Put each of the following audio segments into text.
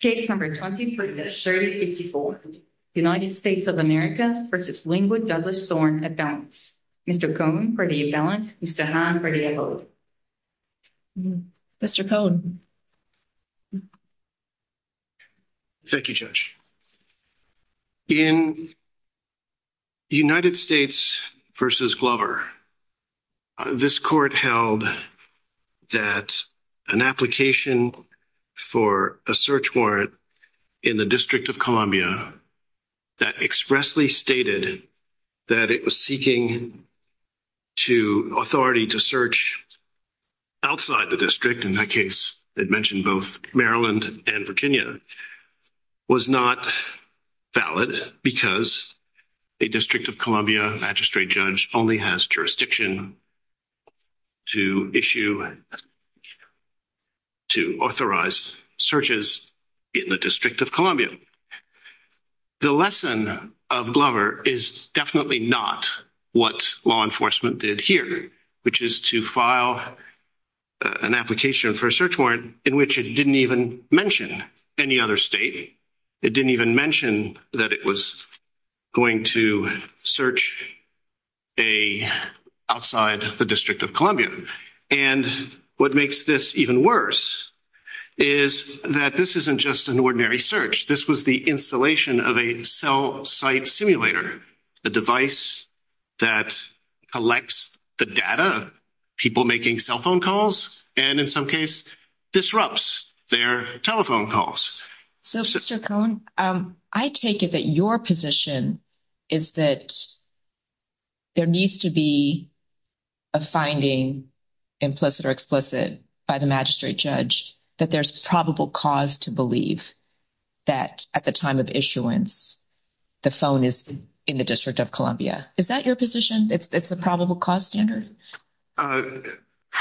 Case No. 23-3054, United States of America v. Linwood Douglas Thorne at Balance. Mr. Cohn for the balance, Mr. Hahn for the abode. Mr. Cohn. Thank you, Judge. In United States v. Glover, this court held that an application for a search warrant in the District of Columbia that expressly stated that it was seeking to authority to search outside the district, in that case, it mentioned both Maryland and Virginia, was not valid because a District of Columbia magistrate judge only has jurisdiction to issue, to authorize searches in the District of Columbia. The lesson of Glover is definitely not what law enforcement did here, which is to file an application for a search warrant in which it didn't even mention any other state. It didn't even mention that it was going to search outside the District of Columbia. And what makes this even worse is that this isn't just an ordinary search. This was the installation of a cell site simulator, a device that collects the data of people making cell phone calls and, in some case, disrupts their telephone calls. So, Mr. Cohn, I take it that your position is that there needs to be a finding, implicit or explicit, by the magistrate judge that there's probable cause to believe that at the time of issuance, the phone is in the District of Columbia. Is that your position? It's a probable cause standard?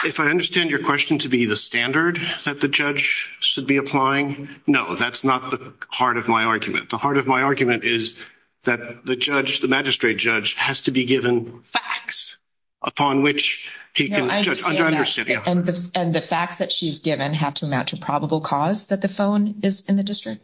If I understand your question to be the standard that the judge should be applying, no, that's not the heart of my argument. The heart of my argument is that the judge, the magistrate judge, has to be given facts upon which he can judge. And the facts that she's given have to amount to probable cause that the phone is in the district?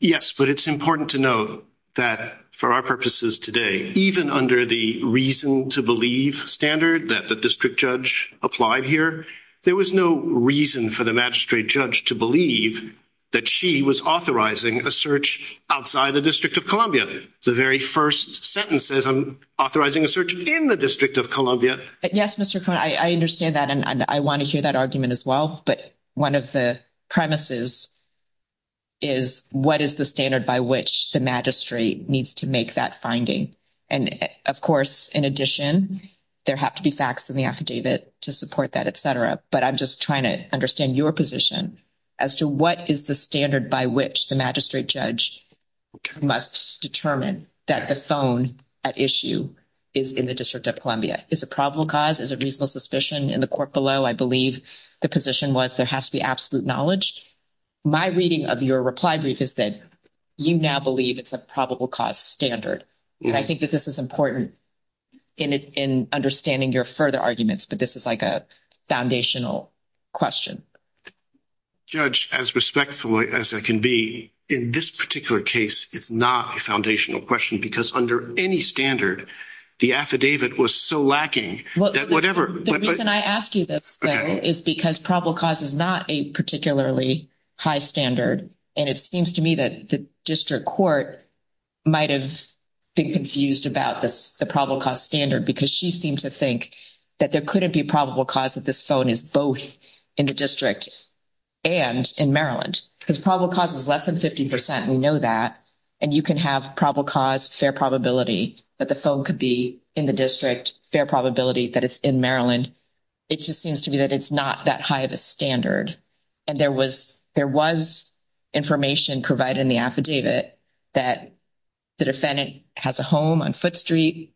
Yes, but it's important to note that for our purposes today, even under the reason to believe standard that the district judge applied here, there was no reason for the magistrate judge to believe that she was authorizing a search outside the District of Columbia. The very first sentence says I'm authorizing a search in the District of Columbia. Yes, Mr. Cohn, I understand that. And I want to hear that argument as well. But one of the premises is what is the standard by which the magistrate needs to make that finding? And, of course, in addition, there have to be facts in the affidavit to support that, et cetera. But I'm just trying to understand your position as to what is the standard by which the magistrate judge must determine that the phone at issue is in the District of Columbia? Is it probable cause? Is it reasonable suspicion in the court below? I believe the position was there has to be absolute knowledge. My reading of your reply brief is that you now believe it's a probable cause standard. And I think that this is important in understanding your further arguments, but this is like a foundational question. Judge, as respectful as I can be, in this particular case, it's not a foundational question because under any standard, the affidavit was so lacking. The reason I ask you this is because probable cause is not a particularly high standard. And it seems to me that the district court might have been confused about the probable cause standard because she seemed to think that there couldn't be probable cause that this phone is both in the district and in Maryland. Because probable cause is less than 50 percent. We know that. And you can have probable cause, fair probability that the phone could be in the district, fair probability that it's in Maryland. It just seems to me that it's not that high of a standard. And there was information provided in the affidavit that the defendant has a home on Foote Street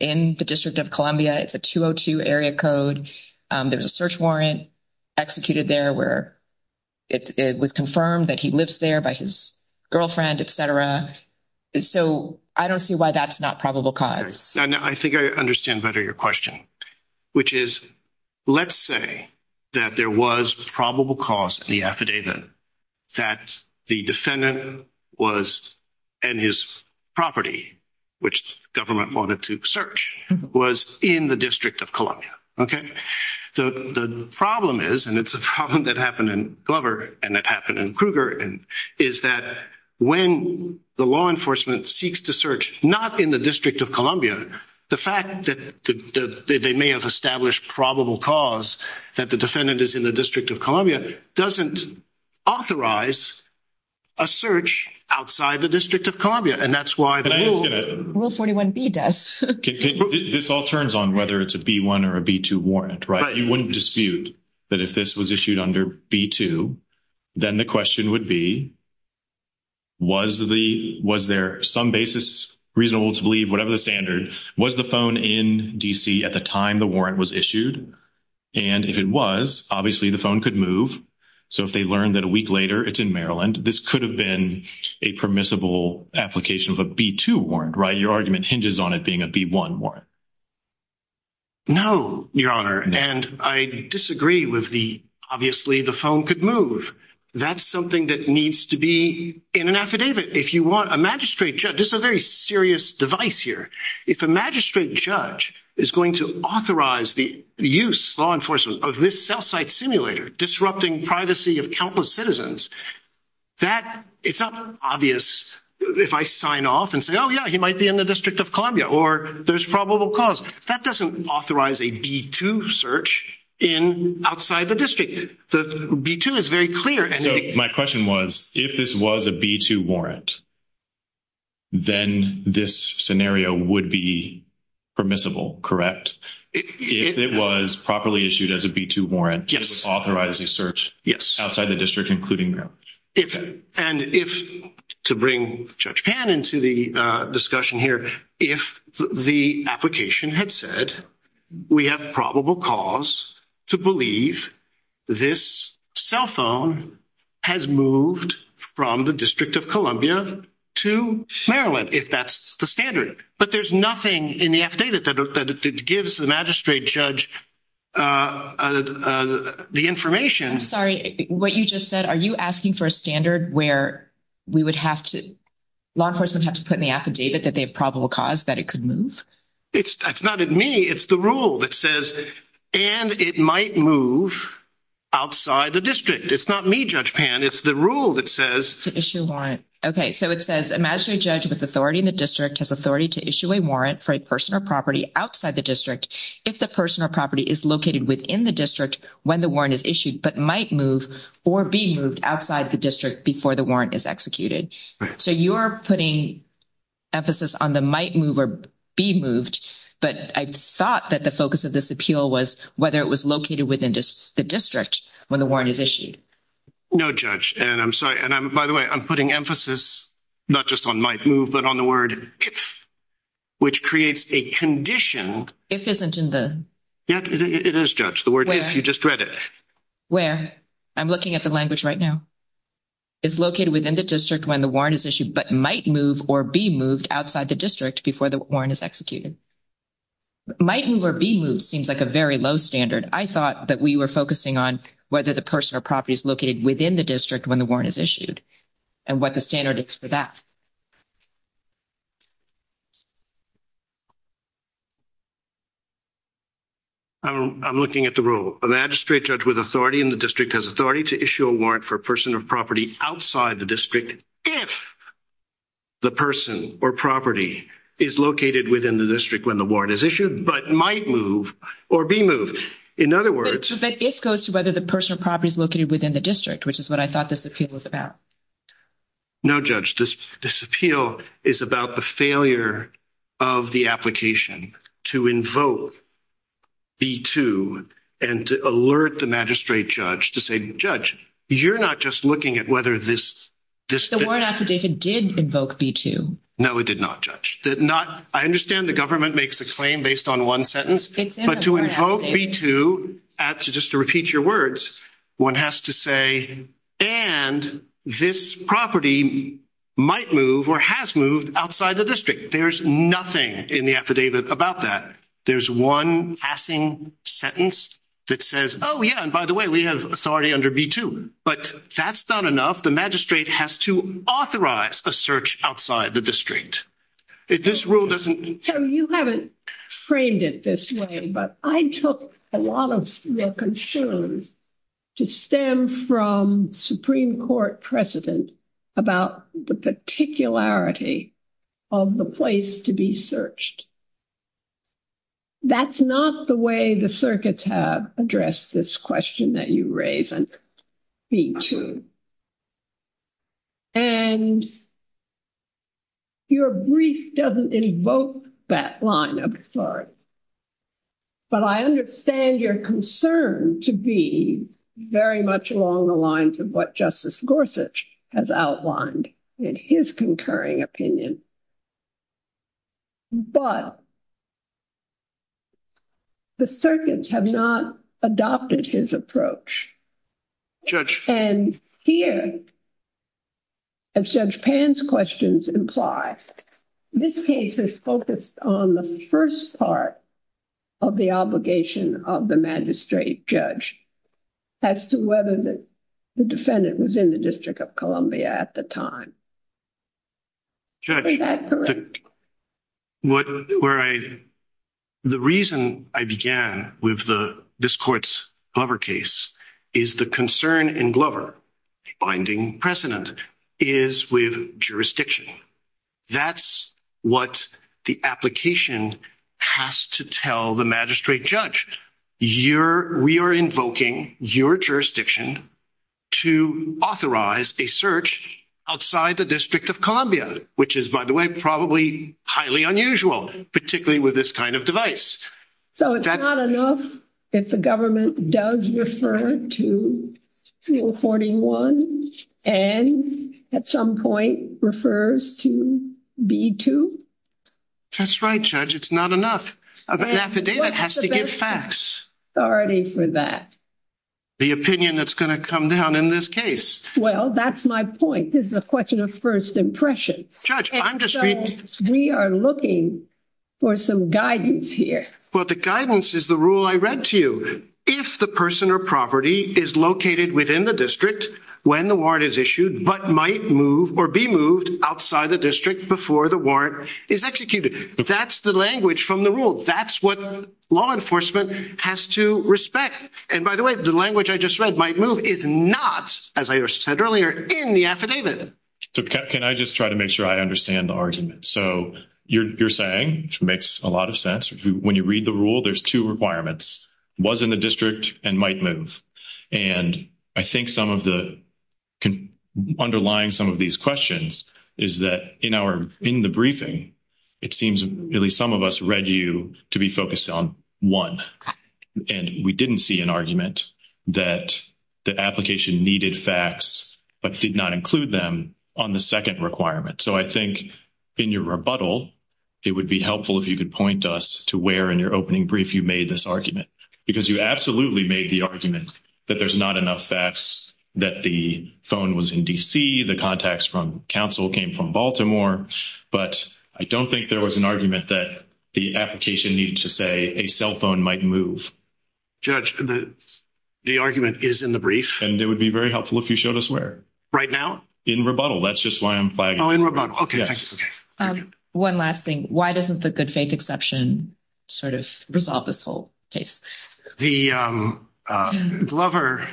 in the District of Columbia. It's a 202 area code. There was a search warrant executed there where it was confirmed that he lives there by his girlfriend, et cetera. So I don't see why that's not probable cause. I think I understand better your question, which is, let's say that there was probable cause in the affidavit that the defendant was in his property, which the government wanted to search, was in the District of Columbia. The problem is, and it's a problem that happened in Glover and that happened in Kruger, is that when the law enforcement seeks to search not in the District of Columbia, the fact that they may have established probable cause that the defendant is in the District of Columbia doesn't authorize a search outside the District of Columbia. Will 41B does? This all turns on whether it's a B-1 or a B-2 warrant, right? You wouldn't dispute that if this was issued under B-2, then the question would be, was there some basis reasonable to believe, whatever the standard, was the phone in D.C. at the time the warrant was issued? And if it was, obviously the phone could move. So if they learned that a week later it's in Maryland, this could have been a permissible application of a B-2 warrant, right? Your argument hinges on it being a B-1 warrant. No, Your Honor, and I disagree with the, obviously the phone could move. That's something that needs to be in an affidavit. This is a very serious device here. If a magistrate judge is going to authorize the use, law enforcement, of this cell site simulator disrupting privacy of countless citizens, it's not obvious if I sign off and say, oh, yeah, he might be in the District of Columbia, or there's probable cause. That doesn't authorize a B-2 search outside the district. The B-2 is very clear. So my question was, if this was a B-2 warrant, then this scenario would be permissible, correct? If it was properly issued as a B-2 warrant, it would authorize a search outside the district, including Maryland? And if, to bring Judge Pan into the discussion here, if the application had said, we have probable cause to believe this cell phone has moved from the District of Columbia to Maryland, if that's the standard, but there's nothing in the affidavit that gives the magistrate judge the information. I'm sorry, what you just said, are you asking for a standard where we would have to, law enforcement would have to put in the affidavit that they have probable cause that it could move? It's not me, it's the rule that says, and it might move outside the district. It's not me, Judge Pan, it's the rule that says. To issue a warrant. Okay, so it says, a magistrate judge with authority in the district has authority to issue a warrant for a person or property outside the district if the person or property is located within the district when the warrant is issued, but might move or be moved outside the district before the warrant is executed. So you're putting emphasis on the might move or be moved, but I thought that the focus of this appeal was whether it was located within the district when the warrant is issued. No, Judge, and I'm sorry, and I'm, by the way, I'm putting emphasis, not just on might move, but on the word. Which creates a condition if isn't in the. It is judge the word if you just read it. Where I'm looking at the language right now. Is located within the district when the warrant is issued, but might move or be moved outside the district before the warrant is executed. Might move or be moved seems like a very low standard. I thought that we were focusing on whether the person or property is located within the district when the warrant is issued. And what the standard is for that. I'm looking at the role of magistrate judge with authority in the district has authority to issue a warrant for person of property outside the district. If the person or property is located within the district when the warrant is issued, but might move or be moved. In other words, it goes to whether the person or property is located within the district, which is what I thought this appeal was about. No, judge, this appeal is about the failure. Of the application to invoke. B2 and to alert the magistrate judge to say, judge, you're not just looking at whether this. The word affidavit did invoke B2. No, it did not judge that. Not. I understand the government makes a claim based on 1 sentence, but to invoke B2 to just to repeat your words. One has to say, and this property might move or has moved outside the district. There's nothing in the affidavit about that. There's 1 passing sentence that says, oh, yeah, and by the way, we have authority under B2, but that's not enough. The magistrate has to authorize a search outside the district. This rule doesn't you haven't framed it this way, but I took a lot of concerns. To stem from Supreme Court precedent about the particularity. Of the place to be searched, that's not the way the circuits have addressed this question that you raise and. B2 and. Your brief doesn't invoke that line. I'm sorry. But I understand your concern to be very much along the lines of what justice Gorsuch has outlined in his concurring opinion. But. The circuits have not adopted his approach. Judge and here. As judge pan's questions imply, this case is focused on the 1st part. Of the obligation of the magistrate judge. As to whether the defendant was in the district of Columbia at the time. Judge. What where I. The reason I began with the, this court's cover case is the concern in Glover. Finding precedent is with jurisdiction. That's what the application has to tell the magistrate judge. We are invoking your jurisdiction. To authorize a search outside the district of Columbia, which is, by the way, probably highly unusual, particularly with this kind of device. So, it's not enough if the government does refer to. 41 and at some point refers to B2. That's right judge. It's not enough. The affidavit has to give facts already for that. The opinion that's going to come down in this case. Well, that's my point. This is a question of 1st impression judge. I'm just we are looking. For some guidance here, but the guidance is the rule I read to you if the person or property is located within the district, when the warrant is issued, but might move or be moved outside the district before the warrant is executed. That's the language from the rule. That's what law enforcement has to respect. And by the way, the language I just read might move is not as I said earlier in the affidavit. So, can I just try to make sure I understand the argument? So you're saying, which makes a lot of sense when you read the rule, there's 2 requirements was in the district and might move. And I think some of the. Underlying some of these questions is that in our, in the briefing. It seems at least some of us read you to be focused on 1 and we didn't see an argument that the application needed facts, but did not include them on the 2nd requirement. So, I think in your rebuttal, it would be helpful if you could point us to where in your opening brief, you made this argument because you absolutely made the argument that there's not enough facts that the phone was in DC. The contacts from counsel came from Baltimore, but I don't think there was an argument that the application needed to say a cell phone might move. Judge, the argument is in the brief and it would be very helpful if you showed us where right now in rebuttal. That's just why I'm fine. Okay. 1 last thing. Why doesn't the good faith exception? Sort of resolve this whole case, the lover.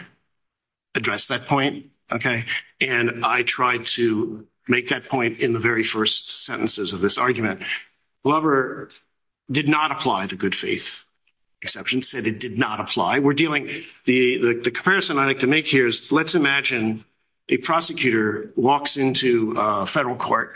Address that point. Okay. And I tried to make that point in the very 1st sentences of this argument. Lover did not apply the good faith. Exceptions said it did not apply. We're dealing the comparison I like to make. Here's let's imagine. A prosecutor walks into a federal court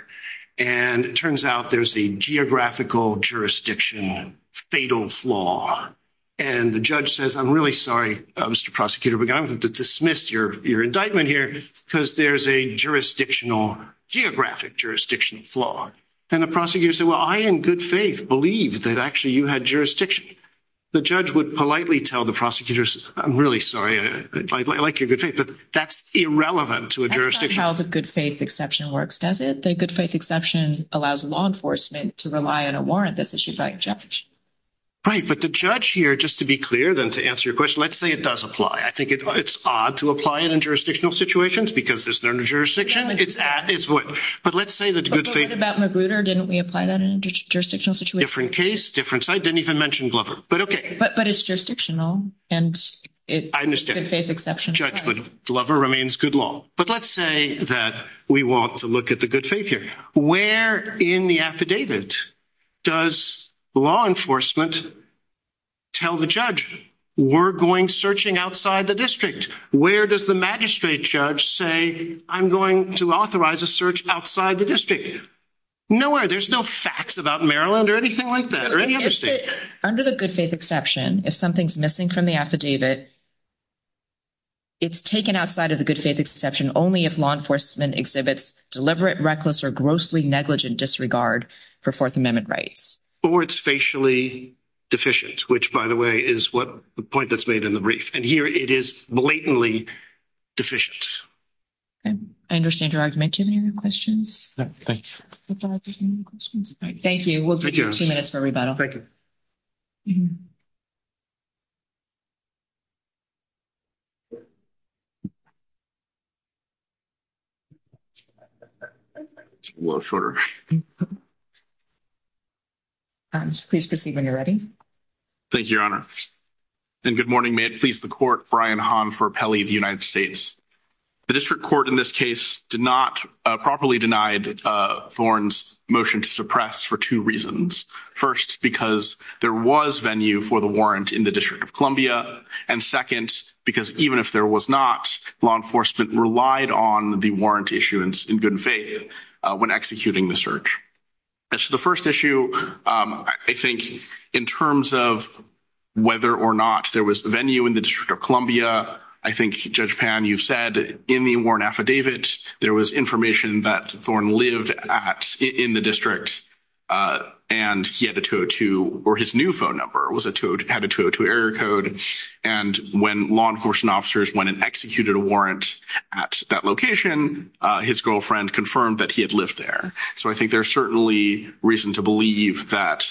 and it turns out there's a geographical jurisdiction fatal flaw. And the judge says, I'm really sorry, Mr. Prosecutor, but I'm going to dismiss your indictment here because there's a jurisdictional geographic jurisdiction flaw. And the prosecutor said, well, I, in good faith, believe that actually you had jurisdiction. The judge would politely tell the prosecutors. I'm really sorry. I like your good faith, but that's irrelevant to a jurisdiction. How the good faith exception works. Does it? The good faith exception allows law enforcement to rely on a warrant that's issued by a judge. Right, but the judge here, just to be clear than to answer your question, let's say it does apply. I think it's odd to apply it in jurisdictional situations because there's no jurisdiction. It's what, but let's say that the good faith about Magruder. Didn't we apply that in a jurisdictional situation? Different case, different site. Didn't even mention Glover, but okay. But it's jurisdictional and it's good faith exception. Judge, but Glover remains good law. But let's say that we want to look at the good faith here. Where in the affidavit does law enforcement. Tell the judge, we're going searching outside the district. Where does the magistrate judge say? I'm going to authorize a search outside the district. Nowhere, there's no facts about Maryland or anything like that or any other state under the good faith exception. If something's missing from the affidavit. It's taken outside of the good faith exception only if law enforcement exhibits deliberate reckless or grossly negligent disregard for 4th amendment rights or it's facially deficient. Which, by the way, is what the point that's made in the brief and here it is blatantly. Deficient, I understand your argument to the questions. Thank you. We'll give you 2 minutes for rebuttal. Please proceed when you're ready. Thank you, your honor. And good morning, please the court Brian Han for Pelley, the United States. The district court in this case did not properly denied thorns motion to suppress for 2 reasons. 1st, because there was venue for the warrant in the district of Columbia and 2nd, because even if there was not law enforcement relied on the warrant issuance in good faith when executing the search. The 1st issue, I think, in terms of. Whether, or not there was a venue in the district of Columbia, I think, judge pan, you've said in the warrant affidavit, there was information that thorn lived at in the district. And he had a 2 or his new phone number was a 2 had a 2 error code. And when law enforcement officers went and executed a warrant at that location, his girlfriend confirmed that he had lived there. So, I think there's certainly reason to believe that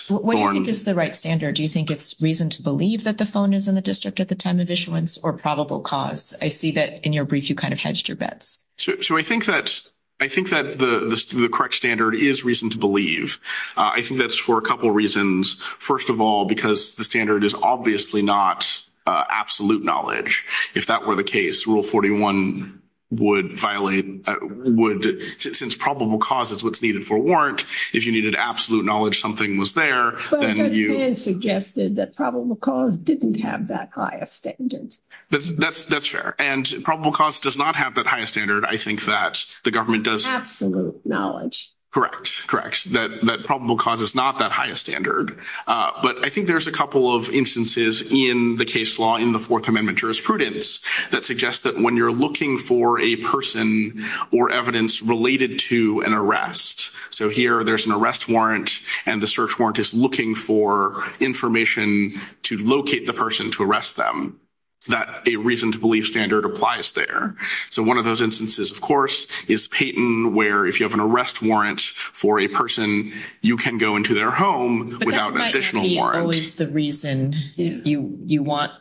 is the right standard. Do you think it's reason to believe that the phone is in the district at the time of issuance or probable cause? I see that in your brief, you kind of hedged your bets. So, I think that I think that the correct standard is reason to believe. I think that's for a couple of reasons. 1st of all, because the standard is obviously not absolute knowledge. If that were the case, rule 41 would violate would since probable cause is what's needed for warrant. If you needed absolute knowledge, something was there and you suggested that probable cause didn't have that highest standards. That's that's that's fair. And probable cause does not have that highest standard. I think that the government does absolute knowledge. Correct. That probable cause is not that highest standard. But I think there's a couple of instances in the case law in the 4th Amendment jurisprudence that suggests that when you're looking for a person or evidence related to an arrest. So, here, there's an arrest warrant and the search warrant is looking for information to locate the person to arrest them. That a reason to believe standard applies there. So, 1 of those instances, of course, is Peyton where if you have an arrest warrant for a person, you can go into their home without additional warrant. But that might not be always the reason you want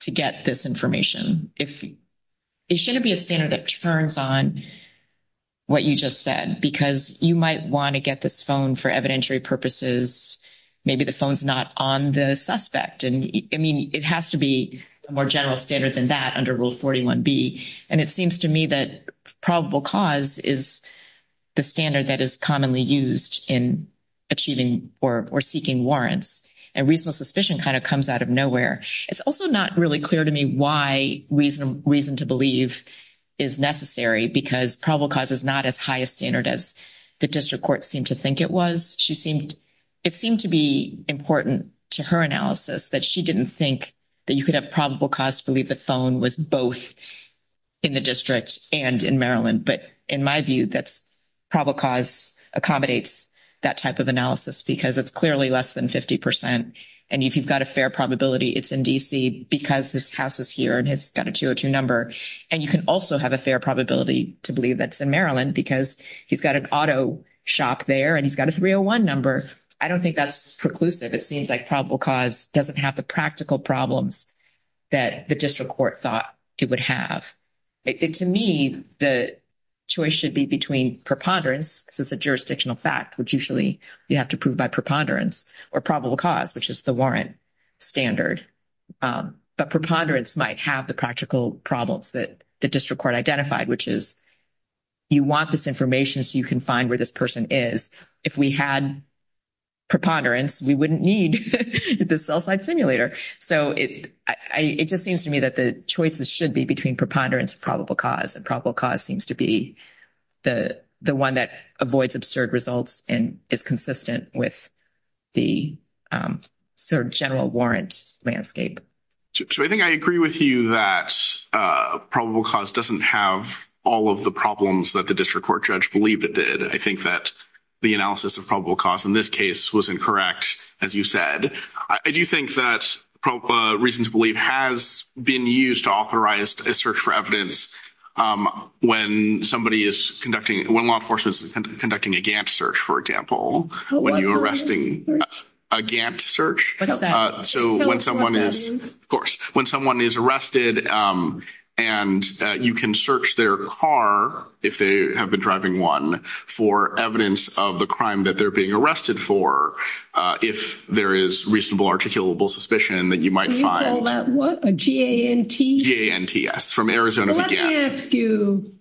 to get this information. It shouldn't be a standard that turns on what you just said, because you might want to get this phone for evidentiary purposes. Maybe the phone's not on the suspect. And, I mean, it has to be a more general standard than that under rule 41B. And it seems to me that probable cause is the standard that is commonly used in achieving or seeking warrants. And reasonable suspicion kind of comes out of nowhere. It's also not really clear to me why reason to believe is necessary, because probable cause is not as high a standard as the district court seemed to think it was. It seemed to be important to her analysis that she didn't think that you could have probable cause to believe the phone was both in the district and in Maryland. But in my view, that's probable cause accommodates that type of analysis, because it's clearly less than 50%. And if you've got a fair probability it's in D.C., because his house is here and he's got a 202 number. And you can also have a fair probability to believe that it's in Maryland, because he's got an auto shop there and he's got a 301 number. I don't think that's preclusive. It seems like probable cause doesn't have the practical problems that the district court thought it would have. To me, the choice should be between preponderance, since it's a jurisdictional fact, which usually you have to prove by preponderance, or probable cause, which is the warrant standard. But preponderance might have the practical problems that the district court identified, which is you want this information so you can find where this person is. If we had preponderance, we wouldn't need the cell site simulator. So it just seems to me that the choices should be between preponderance and probable cause. And probable cause seems to be the one that avoids absurd results and is consistent with the sort of general warrant landscape. So I think I agree with you that probable cause doesn't have all of the problems that the district court judge believed it did. I think that the analysis of probable cause in this case was incorrect, as you said. I do think that reason to believe has been used to authorize a search for evidence when law enforcement is conducting a Gantt search, for example, when you're arresting a Gantt search. What's that? So when someone is, of course, when someone is arrested and you can search their car, if they have been driving one, for evidence of the crime that they're being arrested for, if there is reasonable articulable suspicion that you might find. Can you call that what? A G-A-N-T? G-A-N-T-S, from Arizona for Gantt. Let me ask you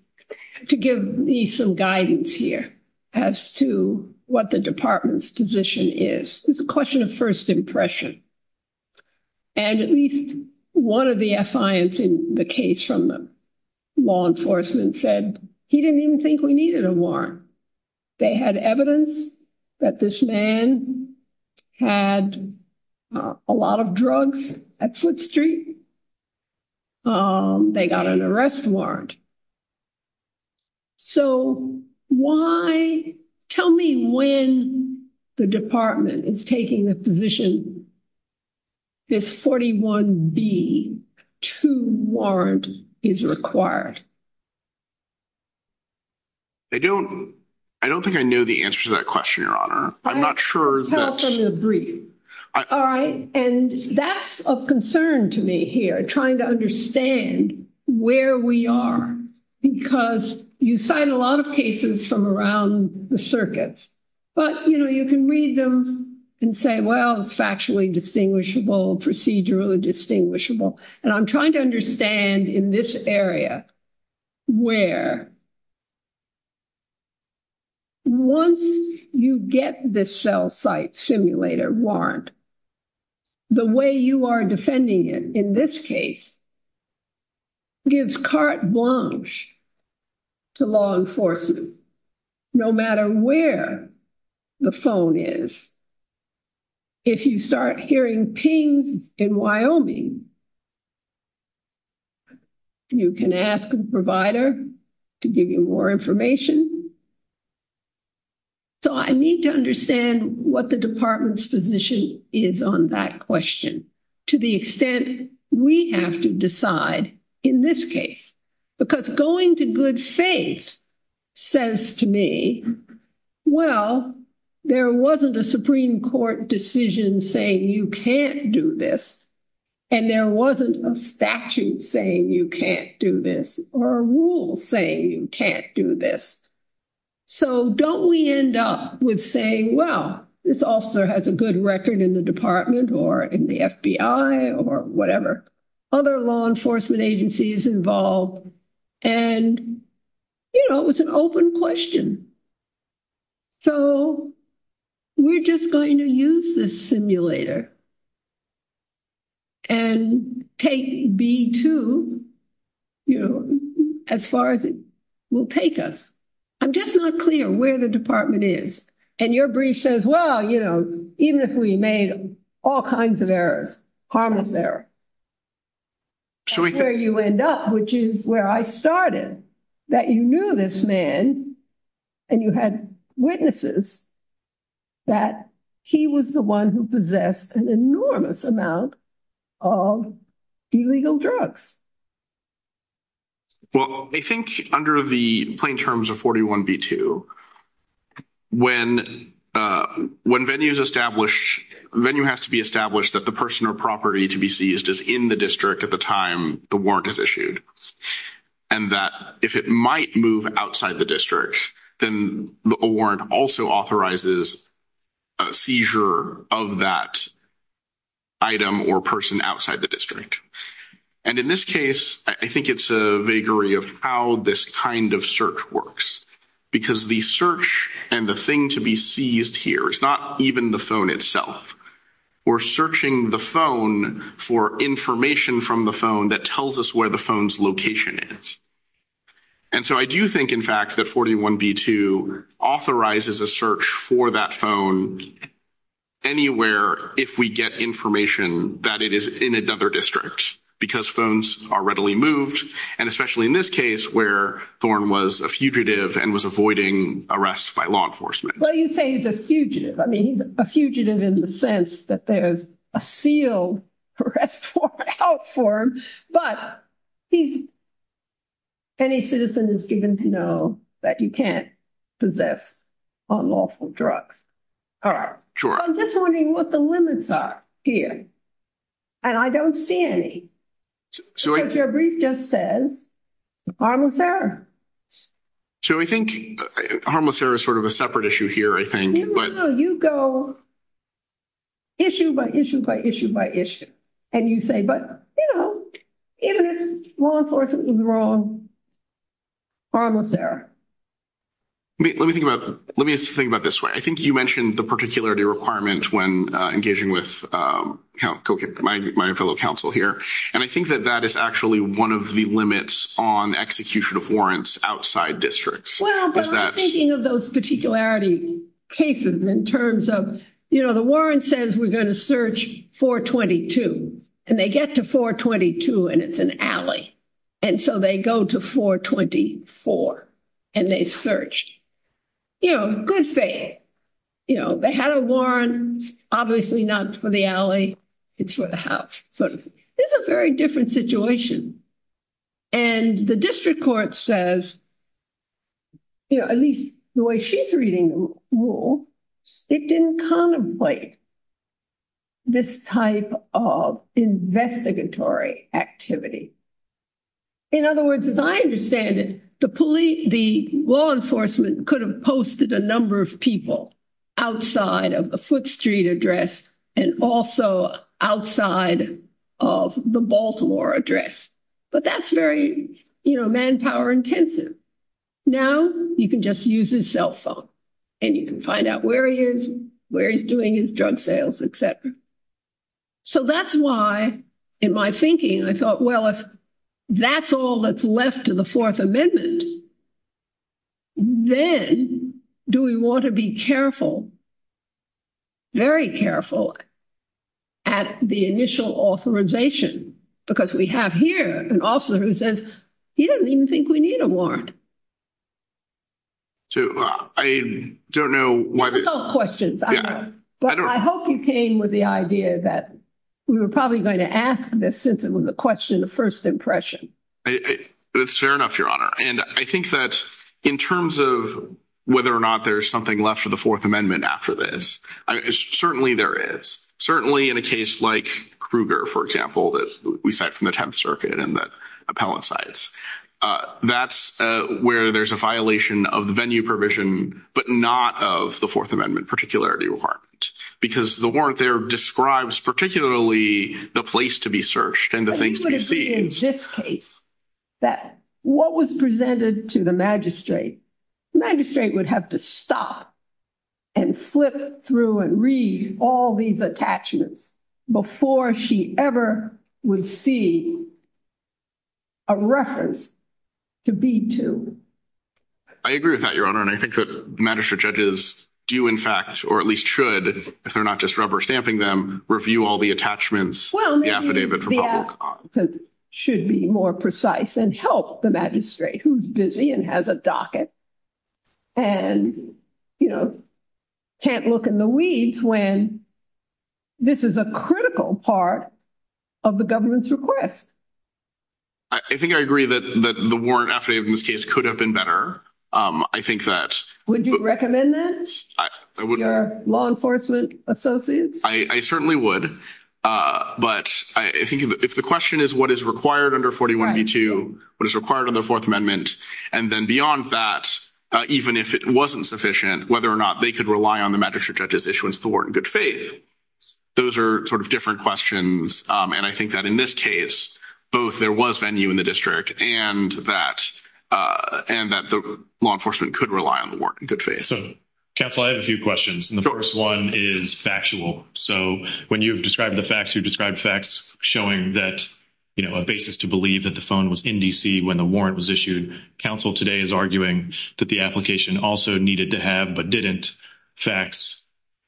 to give me some guidance here as to what the department's position is. It's a question of first impression. And at least one of the affiance in the case from law enforcement said he didn't even think we needed a warrant. They had evidence that this man had a lot of drugs at Foote Street. They got an arrest warrant. So why, tell me when the department is taking the position this 41B-2 warrant is required? I don't think I know the answer to that question, Your Honor. I'm not sure. Tell us from your brief. All right. And that's of concern to me here, trying to understand where we are. Because you cite a lot of cases from around the circuits. But, you know, you can read them and say, well, it's factually distinguishable, procedurally distinguishable. And I'm trying to understand in this area where once you get the cell site simulator warrant, the way you are defending it in this case gives carte blanche to law enforcement. No matter where the phone is, if you start hearing pings in Wyoming, you can ask the provider to give you more information. So I need to understand what the department's position is on that question to the extent we have to decide in this case. Because going to good faith says to me, well, there wasn't a Supreme Court decision saying you can't do this. And there wasn't a statute saying you can't do this or a rule saying you can't do this. So don't we end up with saying, well, this officer has a good record in the department or in the FBI or whatever. Other law enforcement agencies involved. And, you know, it was an open question. So we're just going to use this simulator and take B2, you know, as far as it will take us. I'm just not clear where the department is. And your brief says, well, you know, even if we made all kinds of errors, harmless error. That's where you end up, which is where I started. That you knew this man and you had witnesses that he was the one who possessed an enormous amount of illegal drugs. Well, I think under the plain terms of 41B2, when venue is established, venue has to be established that the person or property to be seized is in the district at the time the warrant is issued. And that if it might move outside the district, then the warrant also authorizes. Seizure of that item or person outside the district. And in this case, I think it's a vagary of how this kind of search works. Because the search and the thing to be seized here is not even the phone itself. We're searching the phone for information from the phone that tells us where the phone's location is. And so I do think, in fact, that 41B2 authorizes a search for that phone anywhere if we get information that it is in another district. Because phones are readily moved. And especially in this case where Thorn was a fugitive and was avoiding arrest by law enforcement. Well, you say he's a fugitive. I mean, he's a fugitive in the sense that there's a sealed arrest warrant out for him. But any citizen is given to know that you can't possess unlawful drugs. I'm just wondering what the limits are here. And I don't see any. Because your brief just says harmless error. So I think harmless error is sort of a separate issue here, I think. You go issue by issue by issue by issue. And you say, but, you know, even if law enforcement is wrong, harmless error. Let me think about this way. I think you mentioned the particularity requirement when engaging with my fellow counsel here. And I think that that is actually one of the limits on execution of warrants outside districts. Well, but I'm thinking of those particularity cases in terms of, you know, the warrant says we're going to search 422. And they get to 422, and it's an alley. And so they go to 424. And they search. You know, good thing. You know, they had a warrant. Obviously not for the alley. It's for the house, sort of. This is a very different situation. And the district court says, you know, at least the way she's reading the rule, it didn't contemplate this type of investigatory activity. In other words, as I understand it, the law enforcement could have posted a number of people outside of the Baltimore address. But that's very, you know, manpower intensive. Now you can just use his cell phone. And you can find out where he is, where he's doing his drug sales, et cetera. So that's why, in my thinking, I thought, well, if that's all that's left of the Fourth Amendment, then do we want to be careful, very careful, at the initial authorization? Because we have here an officer who says, he doesn't even think we need a warrant. So I don't know. Questions. But I hope you came with the idea that we were probably going to ask this since it was a question of first impression. It's fair enough, Your Honor. And I think that in terms of whether or not there's something left for the Fourth Amendment after this, certainly there is. Certainly in a case like Kruger, for example, that we cite from the Tenth Circuit and the appellate sites, that's where there's a violation of the venue provision, but not of the Fourth Amendment particularity requirement. Because the warrant there describes particularly the place to be searched and the things to be seen. In this case, what was presented to the magistrate, the magistrate would have to stop and flip through and read all these attachments before she ever would see a reference to be to. I agree with that, Your Honor. And I think that magistrate judges do in fact, or at least should, if they're not just rubber stamping them, review all the attachments, the affidavit for public. Should be more precise and help the magistrate who's busy and has a docket and can't look in the weeds when this is a critical part of the government's request. I think I agree that the warrant affidavit in this case could have been better. I think that. Would you recommend that? Your law enforcement associates? I certainly would. But I think if the question is what is required under 41 B2, what is required in the Fourth Amendment? And then beyond that, even if it wasn't sufficient, whether or not they could rely on the magistrate judge's issuance, the warrant in good faith. Those are sort of different questions. And I think that in this case, both there was venue in the district and that, and that the law enforcement could rely on the warrant in good faith. So counsel, I have a few questions. And the first one is factual. So when you've described the facts, you've described facts showing that, you know, a basis to believe that the phone was in DC when the warrant was issued. Counsel today is arguing that the application also needed to have, but didn't facts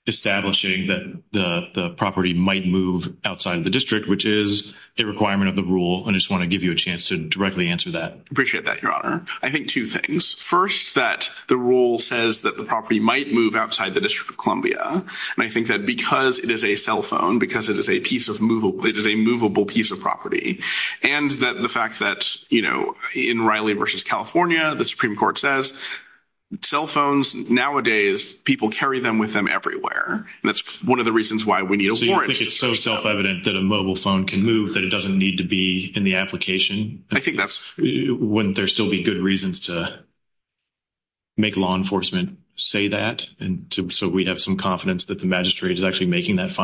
establishing that the property might move outside of the district, which is a requirement of the rule. And I just want to give you a chance to directly answer that. Appreciate that. Your honor. I think two things. First, that the rule says that the property might move outside the district of California. And I think that because it is a cell phone, because it is a piece of movable, it is a movable piece of property. And that the fact that, you know, in Riley versus California, the Supreme court says cell phones nowadays, people carry them with them everywhere. And that's one of the reasons why we need a warrant. It's so self-evident that a mobile phone can move that it doesn't need to be in the application. I think that's when there's still be good reasons to make law enforcement say that. And so we have some confidence that the magistrate is actually making that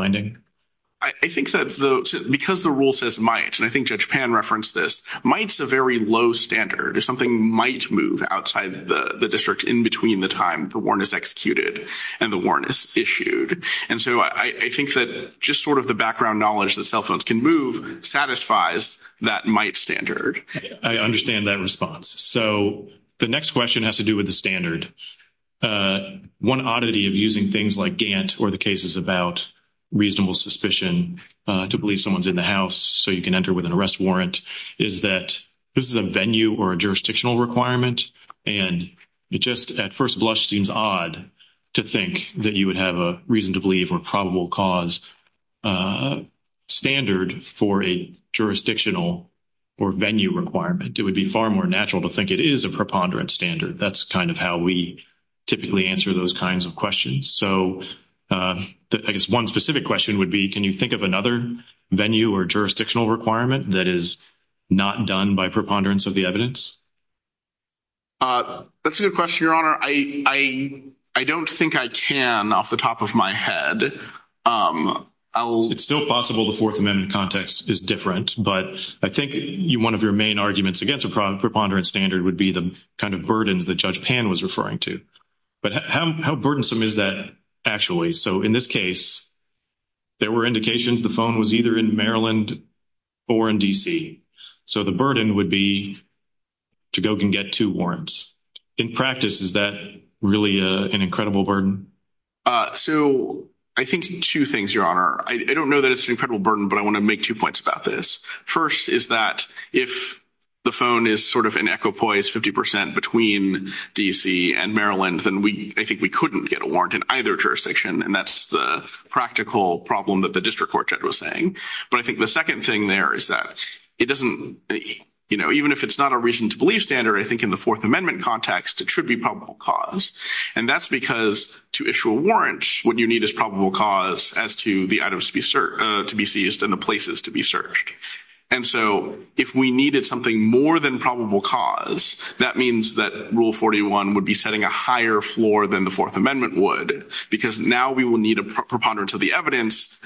I think that's the, because the rule says might, and I think judge pan referenced this mights a very low standard. If something might move outside the district in between the time the warrant is executed and the warrant is issued. And so I think that just sort of the background knowledge that cell phones can move satisfies that might standard. I understand that response. So the next question has to do with the standard. One oddity of using things like Gant or the cases about reasonable suspicion to believe someone's in the house. So you can enter with an arrest warrant is that this is a venue or a jurisdictional requirement. And it just at first blush seems odd to think that you would have a reason to believe or probable cause standard for a jurisdictional or venue requirement. It would be far more natural to think it is a preponderance standard. That's kind of how we typically answer those kinds of questions. So I guess one specific question would be, can you think of another venue or jurisdictional requirement that is not done by preponderance of the evidence? That's a good question, I don't think I can off the top of my head. It's still possible. The fourth amendment context is different, but I think you, one of your main arguments against a prop preponderance standard would be the kind of burdens that judge Pan was referring to, but how burdensome is that actually? So in this case, there were indications the phone was either in Maryland or in DC. So the burden would be to go can get two warrants in practice. Is that really an incredible burden? So I think two things, your honor, I don't know that it's an incredible burden, but I want to make two points about this. First is that if the phone is sort of an echo poise, 50% between DC and Maryland, then we, I think we couldn't get a warrant in either jurisdiction. And that's the practical problem that the district court judge was saying. But I think the second thing there is that it doesn't, you know, even if it's not a reason to believe standard, I think in the fourth amendment context, it should be probable cause. And that's because to issue a warrant, what you need is probable cause as to the items to be searched, to be seized and the places to be searched. And so if we needed something more than probable cause, that means that rule 41 would be setting a higher floor than the fourth amendment would, because now we will need a preponderance of the evidence.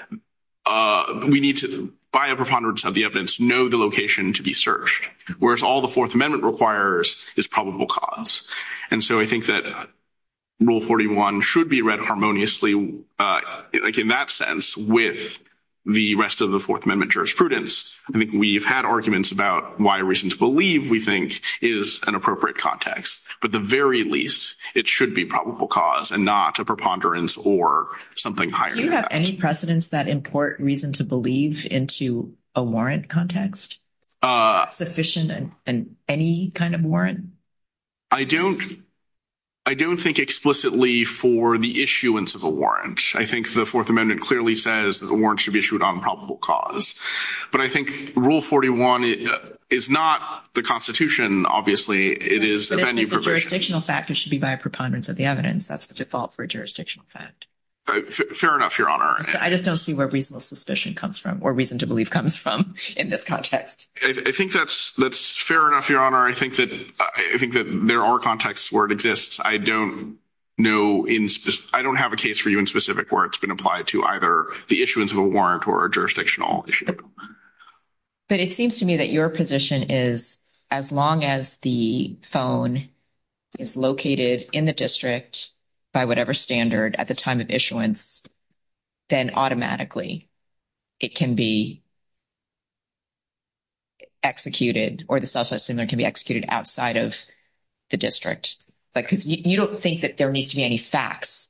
We need to buy a preponderance of the evidence, know the location to be searched, whereas all the fourth amendment requires is probable cause. And so I think that rule 41 should be read harmoniously, like in that sense, with the rest of the fourth amendment jurisprudence. I think we've had arguments about why a reason to believe we think is an appropriate context, but the very least it should be probable cause and not a preponderance or something higher. Do you have any precedents that import reason to believe into a warrant context sufficient and any kind of warrant? I don't, I don't think explicitly for the issuance of a warrant, I think the fourth amendment clearly says that the warrant should be issued on probable cause, but I think rule 41 is not the constitution. Obviously it is jurisdictional factors should be by a preponderance of the evidence. That's the default for a jurisdictional fact. Fair enough. Your honor. I just don't see where reasonable suspicion comes from or reason to believe comes from in this context. I think that's, that's fair enough. Your honor. I think that, I think that there are contexts where it exists. I don't know in, I don't have a case for you in specific where it's been applied to either the issuance of a warrant or a jurisdictional issue. But it seems to me that your position is as long as the phone is located in the district by whatever standard at the time of issuance, then automatically it can be executed or the cell system there can be executed outside of the district because you don't think that there needs to be any facts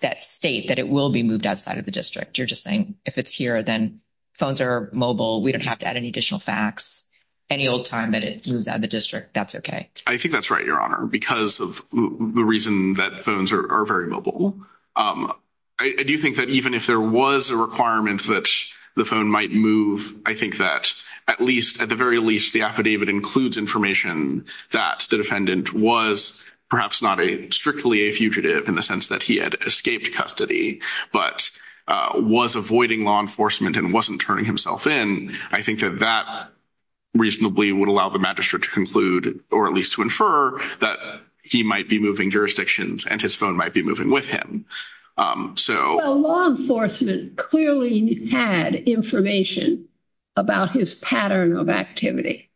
that state that it will be moved outside of the district. You're just saying if it's here, then phones are mobile. We don't have to add any additional facts, any old time that it moves out of the district. That's okay. I think that's right. Your honor, because of the reason that phones are very mobile. I do think that even if there was a requirement that the phone might move, I think that at least at the very least, the affidavit includes information that the defendant was perhaps not a strictly a fugitive in the sense that he had escaped custody, but was avoiding law enforcement and wasn't turning himself in. I think that that reasonably would allow the magistrate to conclude, or at least to infer that he might be moving jurisdictions and his phone might be moving with him. Law enforcement clearly had information about his pattern of activity.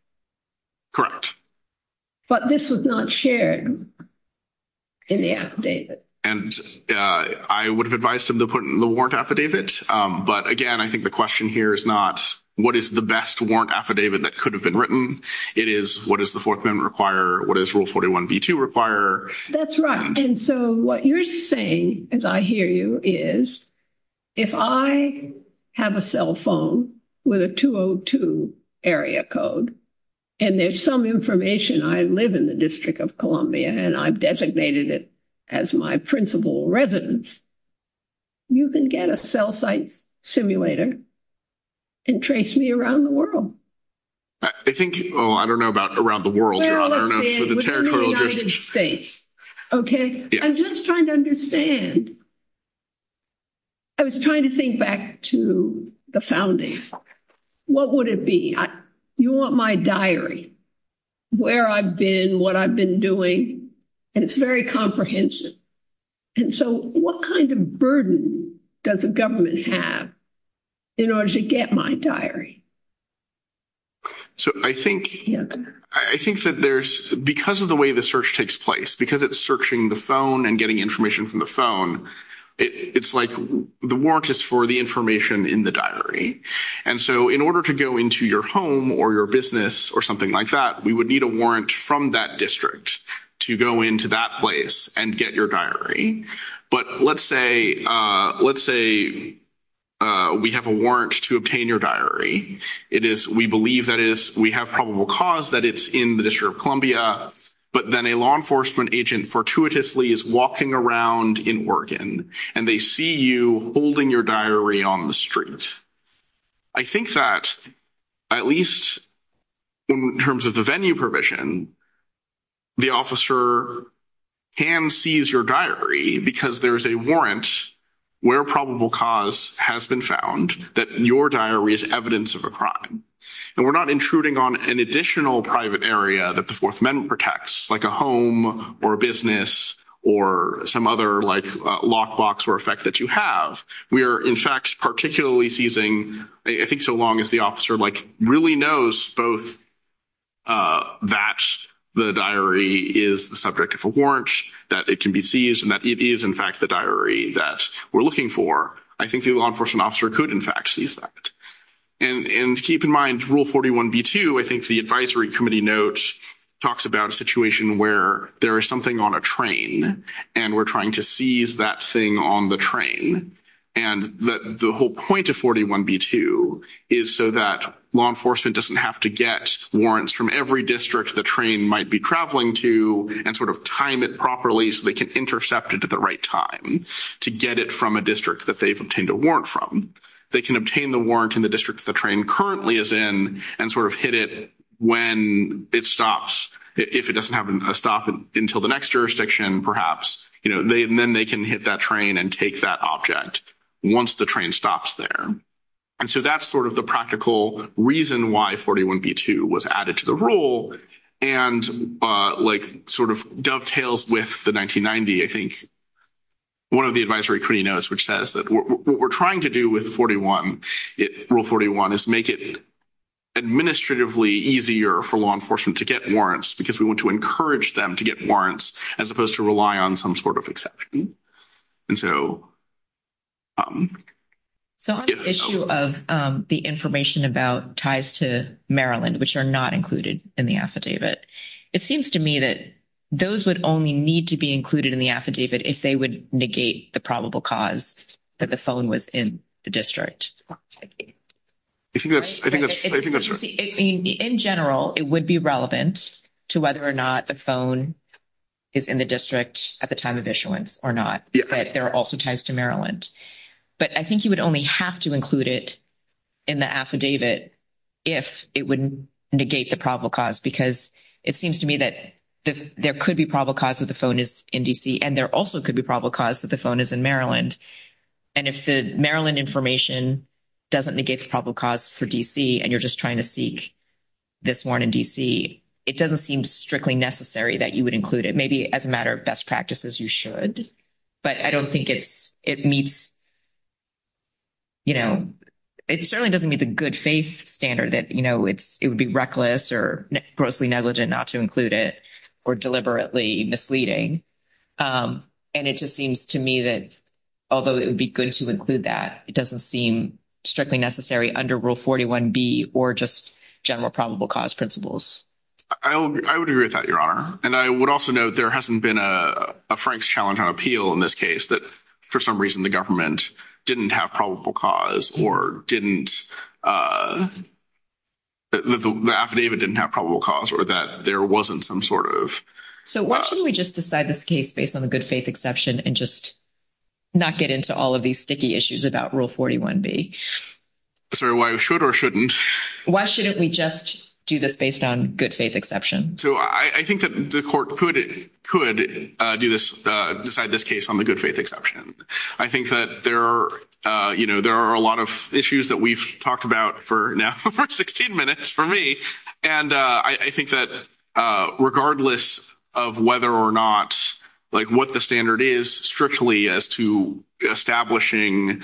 But this was not shared in the affidavit. And I would have advised him to put in the warrant affidavit. But again, I think the question here is not, what is the best warrant affidavit that could have been written? It is what does the fourth amendment require? What does rule 41B2 require? That's right. And so what you're saying, as I hear you, is if I have a cell phone with a 202 area code, and there's some information I live in the District of Columbia and I've designated it as my principal residence, you can get a cell site simulator and trace me around the world. I think, oh, I don't know about around the world, Your Honor. I'm just trying to understand. I was trying to think back to the founding. What would it be? You want my diary, where I've been, what I've been doing. And it's very comprehensive. And so what kind of burden does the government have in order to get my diary? I think that there's, because of the way the search takes place, because it's searching the phone and getting information from the phone, it's like the warrant is for the information in the diary. And so in order to go into your home or your business or something like that, we would need a warrant from that district to go into that place and get your diary. But let's say we have a warrant to obtain your diary. It is, we believe that is, we have probable cause that it's in the district of Columbia, but then a law enforcement agent fortuitously is walking around in Oregon and they see you holding your diary on the street. I think that at least in terms of the venue provision, the officer can seize your diary because there is a warrant where probable cause has been found that your diary is evidence of a crime. And we're not intruding on an additional private area that the fourth amendment protects like a home or a business or some other like lock box or effect that you have. We are in fact, particularly seizing. I think so long as the officer like really knows both that the diary is the subject of a warrant that it can be seized and that it is in fact, the diary that we're looking for. I think the law enforcement officer could in fact seize that. And keep in mind rule 41 B2, I think the advisory committee notes talks about a situation where there is something on a train and we're trying to seize that thing on the train. And that the whole point of 41 B2 is so that law enforcement doesn't have to get warrants from every district. The train might be traveling to and sort of time it properly so they can intercept it at the right time to get it from a district that they've obtained a warrant from. They can obtain the warrant in the district that the train currently is in and sort of hit it when it stops. If it doesn't have a stop until the next jurisdiction, perhaps, then they can hit that train and take that object once the train stops there. And so that's sort of the practical reason why 41 B2 was added to the rule and like sort of dovetails with the 1990, I think one of the advisory committee notes, which says that what we're trying to do with 41, rule 41 is make it administratively easier for law enforcement to get warrants because we want to encourage them to get warrants as opposed to rely on some sort of exception. And so. So on the issue of the information about ties to Maryland, which are not included in the affidavit, it seems to me that those would only need to be included in the affidavit if they would negate the probable cause that the phone was in the district. In general, it would be relevant to whether or not the phone is in the district at the time of issuance or not, but there are also ties to Maryland, but I think you would only have to include it in the affidavit. If it would negate the probable cause, because it seems to me that there could be probable cause that the phone is in DC and there also could be probable cause that the phone is in Maryland. And if the Maryland information doesn't negate the probable cause for DC, and you're just trying to seek this one in DC, it doesn't seem strictly necessary that you would include it. Maybe as a matter of best practices, you should, but I don't think it's, it meets, you know, it certainly doesn't meet the good faith standard that, you know, it's, it would be reckless or grossly negligent not to include it or deliberately misleading. And it just seems to me that, although it would be good to include that, it doesn't seem strictly necessary under rule 41 B or just general probable cause principles. I would agree with that, your honor. And I would also note there hasn't been a Frank's challenge on appeal in this case that for some reason, the government didn't have probable cause or didn't the affidavit didn't have probable cause or that there wasn't some sort of. So why shouldn't we just decide this case based on the good faith exception and just not get into all of these sticky issues about rule 41 B. Sorry, why should or shouldn't, why shouldn't we just do this based on good faith exception? So I think that the court could, could do this, decide this case on the good faith exception. I think that there, you know, there are a lot of issues that we've talked about for now for 16 minutes for me. And I think that regardless of whether or not, like what the standard is strictly as to establishing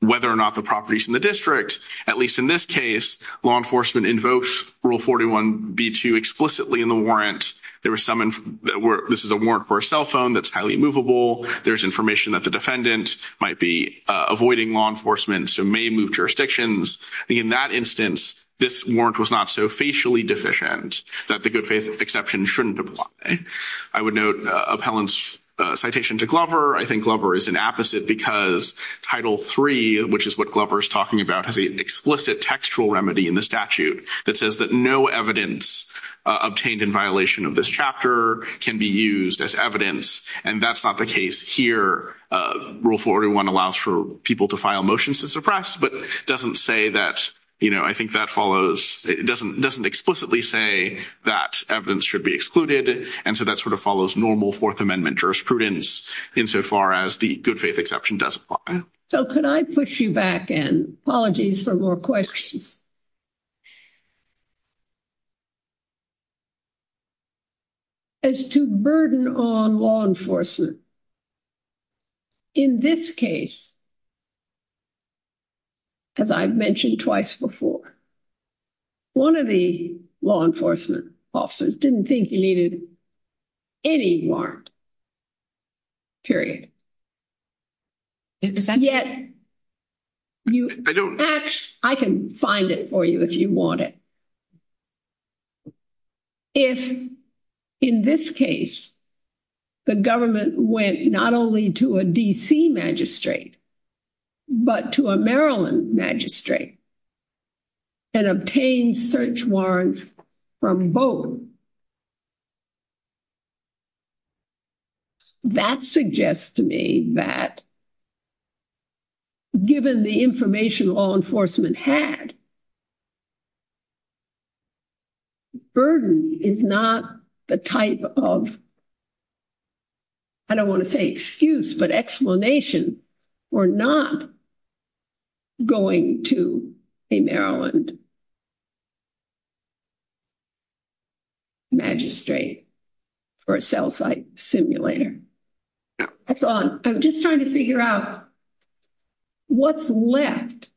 whether or not the properties in the district, at least in this case, law enforcement invokes rule 41 B2 explicitly in the warrant. There was some, this is a warrant for a cell phone. That's highly movable. There's information that the defendant might be avoiding law enforcement. So may move jurisdictions. In that instance, this warrant was not so facially deficient that the good faith exception shouldn't apply. I would note appellant's citation to Glover. I think Glover is an apposite because title three, which is what Glover is talking about, has an explicit textual remedy in the statute that says that no evidence obtained in violation of this chapter can be used as evidence. And that's not the case here. Rule 41 allows for people to file motions to suppress, but doesn't say that, you know, I think that follows. It doesn't explicitly say that evidence should be excluded. And so that sort of follows normal fourth amendment jurisprudence insofar as the good faith exception doesn't apply. So could I push you back and apologies for more questions. As to burden on law enforcement. In this case, as I've mentioned twice before, one of the law enforcement officers didn't think he needed any warrant. Period. Yet, I can find it for you if you want it. If in this case, the government went not only to a DC magistrate, but to a Maryland magistrate and obtained search warrants from both. So that suggests to me that given the information law enforcement had burden is not the type of I don't want to say excuse, but explanation or not going to a Maryland. Magistrate or a cell site simulator. I thought I'm just trying to figure out what's left.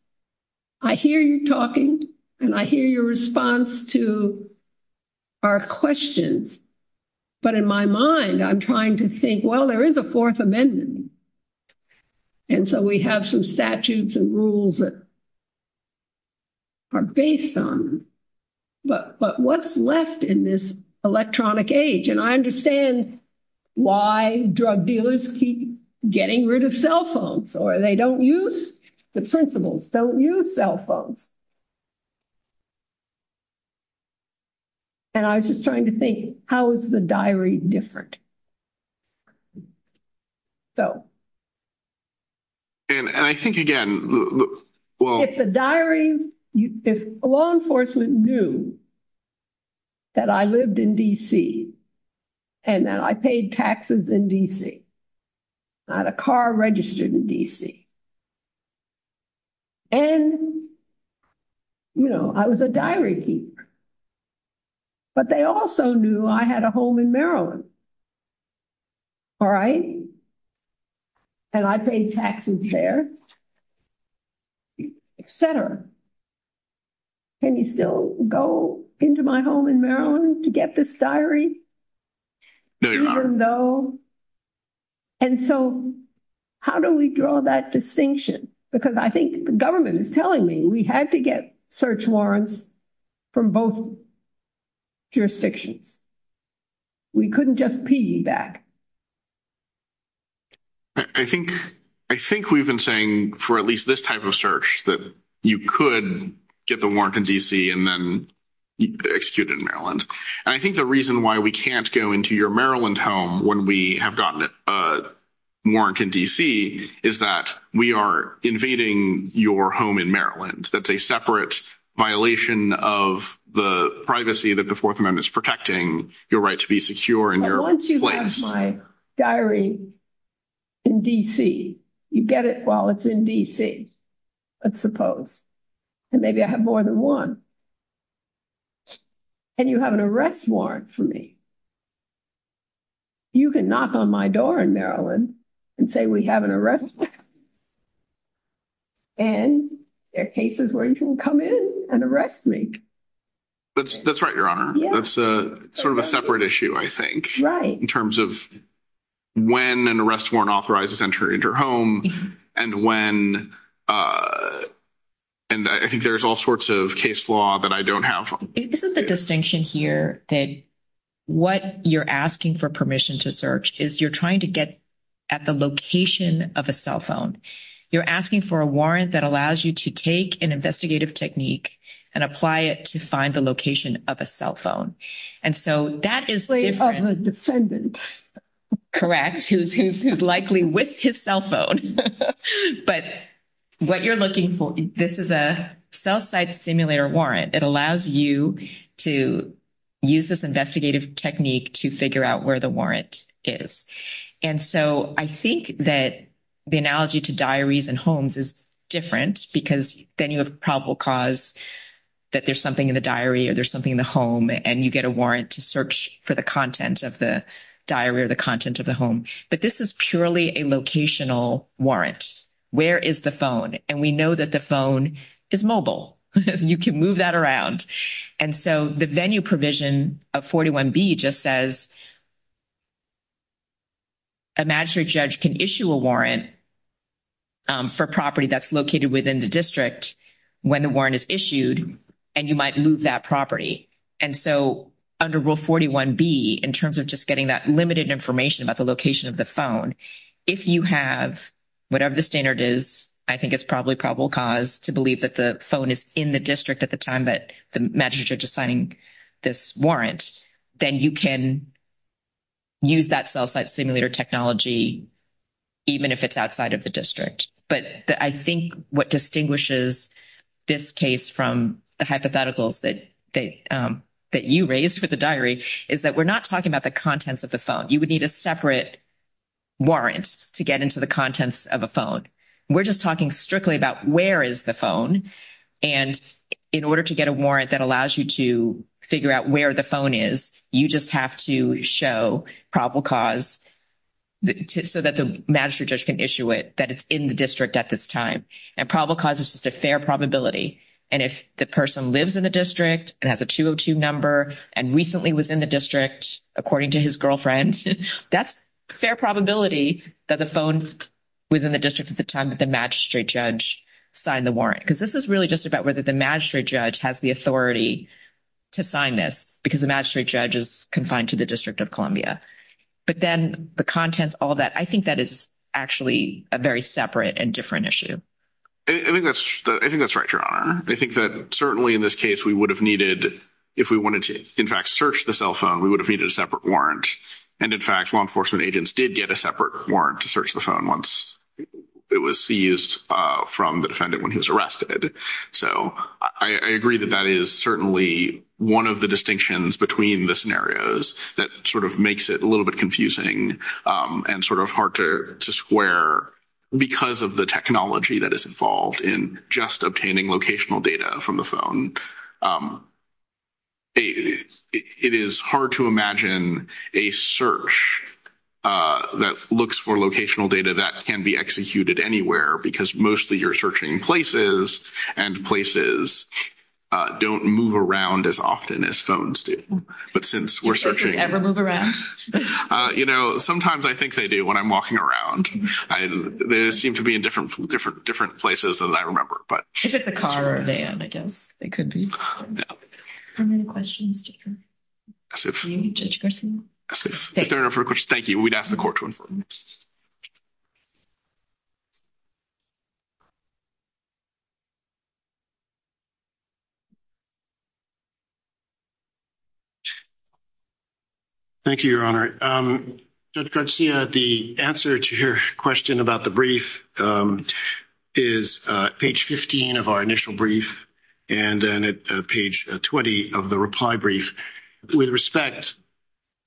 I hear you talking and I hear your response to our questions. But in my mind, I'm trying to think, well, there is a fourth amendment. And so we have some statutes and rules that are based on. But what's left in this electronic age? And I understand why drug dealers keep getting rid of cell phones or they don't use the principles, don't use cell phones. And I was just trying to think, how is the diary different? So. And I think again, it's a diary. If law enforcement knew. That I lived in D.C. and that I paid taxes in D.C. I had a car registered in D.C. And. You know, I was a diary keeper. But they also knew I had a home in Maryland. All right. And I paid taxes there. Et cetera. Can you still go into my home in Maryland to get this diary? Even though. And so how do we draw that distinction? Because I think the government is telling me we had to get search warrants from both. Jurisdictions. We couldn't just piggyback. I think I think we've been saying for at least this type of search that you could get the warrant in D.C. and then executed in Maryland. And I think the reason why we can't go into your Maryland home when we have gotten it. Warrant in D.C. is that we are invading your home in Maryland. That's a separate violation of the privacy that the Fourth Amendment is protecting your right to be secure in your place. My diary. In D.C., you get it while it's in D.C., I suppose. And maybe I have more than one. And you have an arrest warrant for me. You can knock on my door in Maryland and say we have an arrest. And there are cases where you can come in and arrest me. That's that's right, Your Honor. That's a sort of a separate issue, I think. In terms of when an arrest warrant authorizes entering your home and when. And I think there's all sorts of case law that I don't have. This is the distinction here that what you're asking for permission to search is you're trying to get at the location of a cell phone. You're asking for a warrant that allows you to take an investigative technique and apply it to find the location of a cell phone. And so that is the defendant. Who's who's who's likely with his cell phone. But what you're looking for. This is a cell site simulator warrant that allows you to use this investigative technique to figure out where the warrant is. And so I think that the analogy to diaries and homes is different because then you have probable cause that there's something in the diary or there's something in the home and you get a warrant to search for the content of the diary or the content of the home. But this is purely a locational warrant. Where is the phone? And we know that the phone is mobile. You can move that around. And so the venue provision of 41B just says. A magistrate judge can issue a warrant. For property that's located within the district when the warrant is issued and you might move that property. And so under rule 41B, in terms of just getting that limited information about the location of the phone. If you have whatever the standard is, I think it's probably probable cause to believe that the phone is in the district at the time that the magistrate is signing this warrant, then you can. Use that cell site simulator technology. Even if it's outside of the district, but I think what distinguishes this case from the hypotheticals that they that you raised with the diary is that we're not talking about the contents of the phone. You would need a separate. Warrant to get into the contents of a phone. We're just talking strictly about where is the phone and in order to get a warrant that allows you to figure out where the phone is, you just have to show probable cause. So that the magistrate judge can issue it that it's in the district at this time and probable cause is just a fair probability. And if the person lives in the district and has a 202 number and recently was in the district, according to his girlfriend, that's fair probability that the phone was in the district at the time that the magistrate judge signed the warrant. Because this is really just about whether the magistrate judge has the authority to sign this because the magistrate judge is confined to the District of Columbia. But then the contents all that I think that is actually a very separate and different issue. I think that's right. Your Honor. I think that certainly in this case, we would have needed if we wanted to, in fact, search the cell phone, we would have needed a separate warrant. And in fact, law enforcement agents did get a separate warrant to search the phone once it was seized from the defendant when he was So I agree that that is certainly one of the distinctions between the scenarios that sort of makes it a little bit confusing and sort of hard to square because of the technology that is involved in just obtaining locational data from the phone. It is hard to imagine a search that looks for locational data that can be executed anywhere because mostly you're searching places and places don't move around as often as phones do. Do places ever move around? You know, sometimes I think they do when I'm walking around. They seem to be in different places than I remember. If it's a car or a van, I guess it could be. Are there any questions, Judge Garcino? Yes, if there are no further questions, thank you. We'd ask the court to inform us. Thank you. Thank you, Your Honor. Judge Garcia, the answer to your question about the brief is page 15 of our initial brief and then at page 20 of the reply brief. With respect,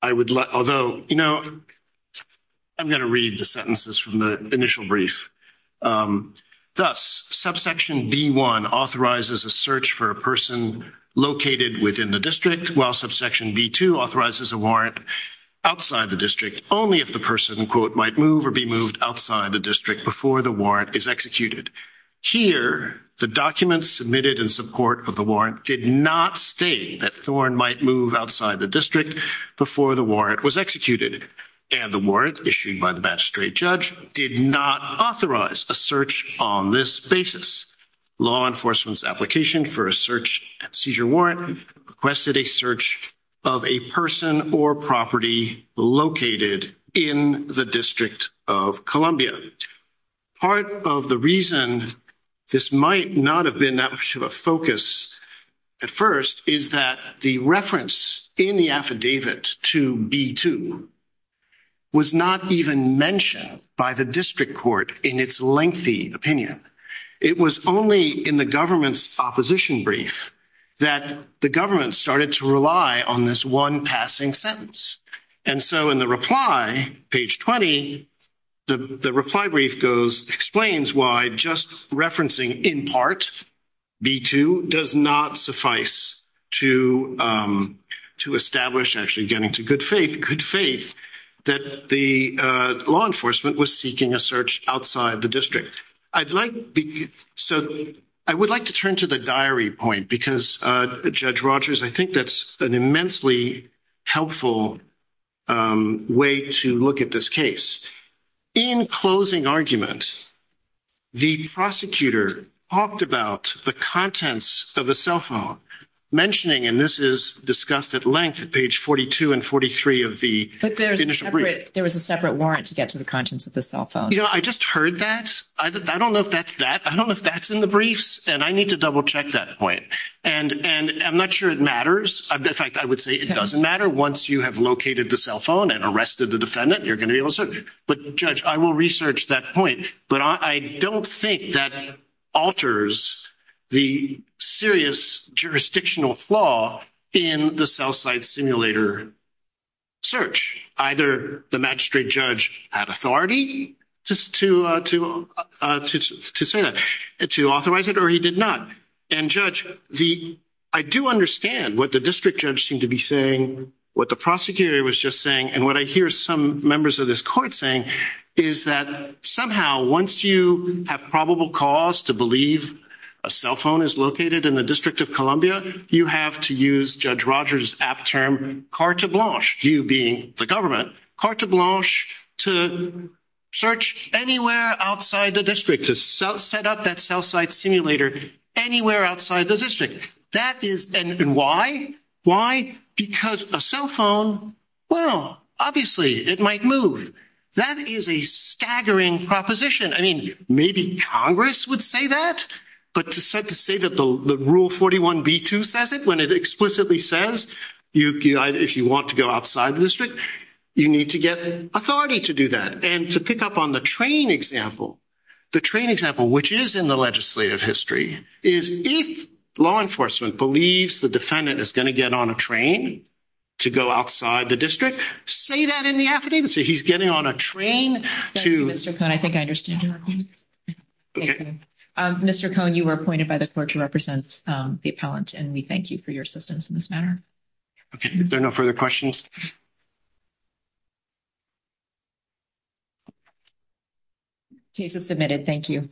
I would let, although, you know, I'm going to read the initial brief. Thus, subsection B1 authorizes a search for a person located within the district, while subsection B2 authorizes a warrant outside the district only if the person, quote, might move or be moved outside the district before the warrant is executed. Here, the documents submitted in support of the warrant did not state that Thorn might move outside the district before the warrant was executed. They did not authorize a search on this basis. Law enforcement's application for a search and seizure warrant requested a search of a person or property located in the District of Columbia. Part of the reason this might not have been that much of a focus at first is that the reference in the affidavit to B2 was not even mentioned by the Supreme Court in its lengthy opinion. It was only in the government's opposition brief that the government started to rely on this one passing sentence. And so in the reply, page 20, the reply brief goes, explains why just referencing in part B2 does not suffice to establish actually getting to the good faith, good faith that the law enforcement was seeking a search outside the district. So I would like to turn to the diary point because, Judge Rogers, I think that's an immensely helpful way to look at this case. In closing argument, the prosecutor talked about the contents of a cell phone. I don't know if that's in the briefs and I need to double check that point. And I'm not sure it matters. In fact, I would say it doesn't matter. Once you have located the cell phone and arrested the defendant, you're going to be able to search. But, Judge, I will research that point. But I don't think that alters the serious jurisdictional flaw in the cell phone outside simulator search. Either the magistrate judge had authority to say that, to authorize it, or he did not. And, Judge, I do understand what the district judge seemed to be saying, what the prosecutor was just saying, and what I hear some members of this court saying is that somehow once you have probable cause to believe a cell phone, you can use that term carte blanche, you being the government, carte blanche to search anywhere outside the district, to set up that cell site simulator anywhere outside the district. That is, and why? Why? Because a cell phone, well, obviously, it might move. That is a staggering proposition. I mean, maybe Congress would say that, but to say that the Rule 41b-2 says it when it explicitly says if you want to go outside the district, you need to get authority to do that. And to pick up on the train example, the train example, which is in the legislative history, is if law enforcement believes the defendant is going to get on a train to go outside the district, say that in the affidavit, say he's getting on a train to — Thank you, Mr. Cohn. I think I understand your point. Okay. Mr. Cohn, you were appointed by the court to represent the appellant, and we thank you for your assistance in this matter. Okay. Are there no further questions? Case is submitted. Thank you.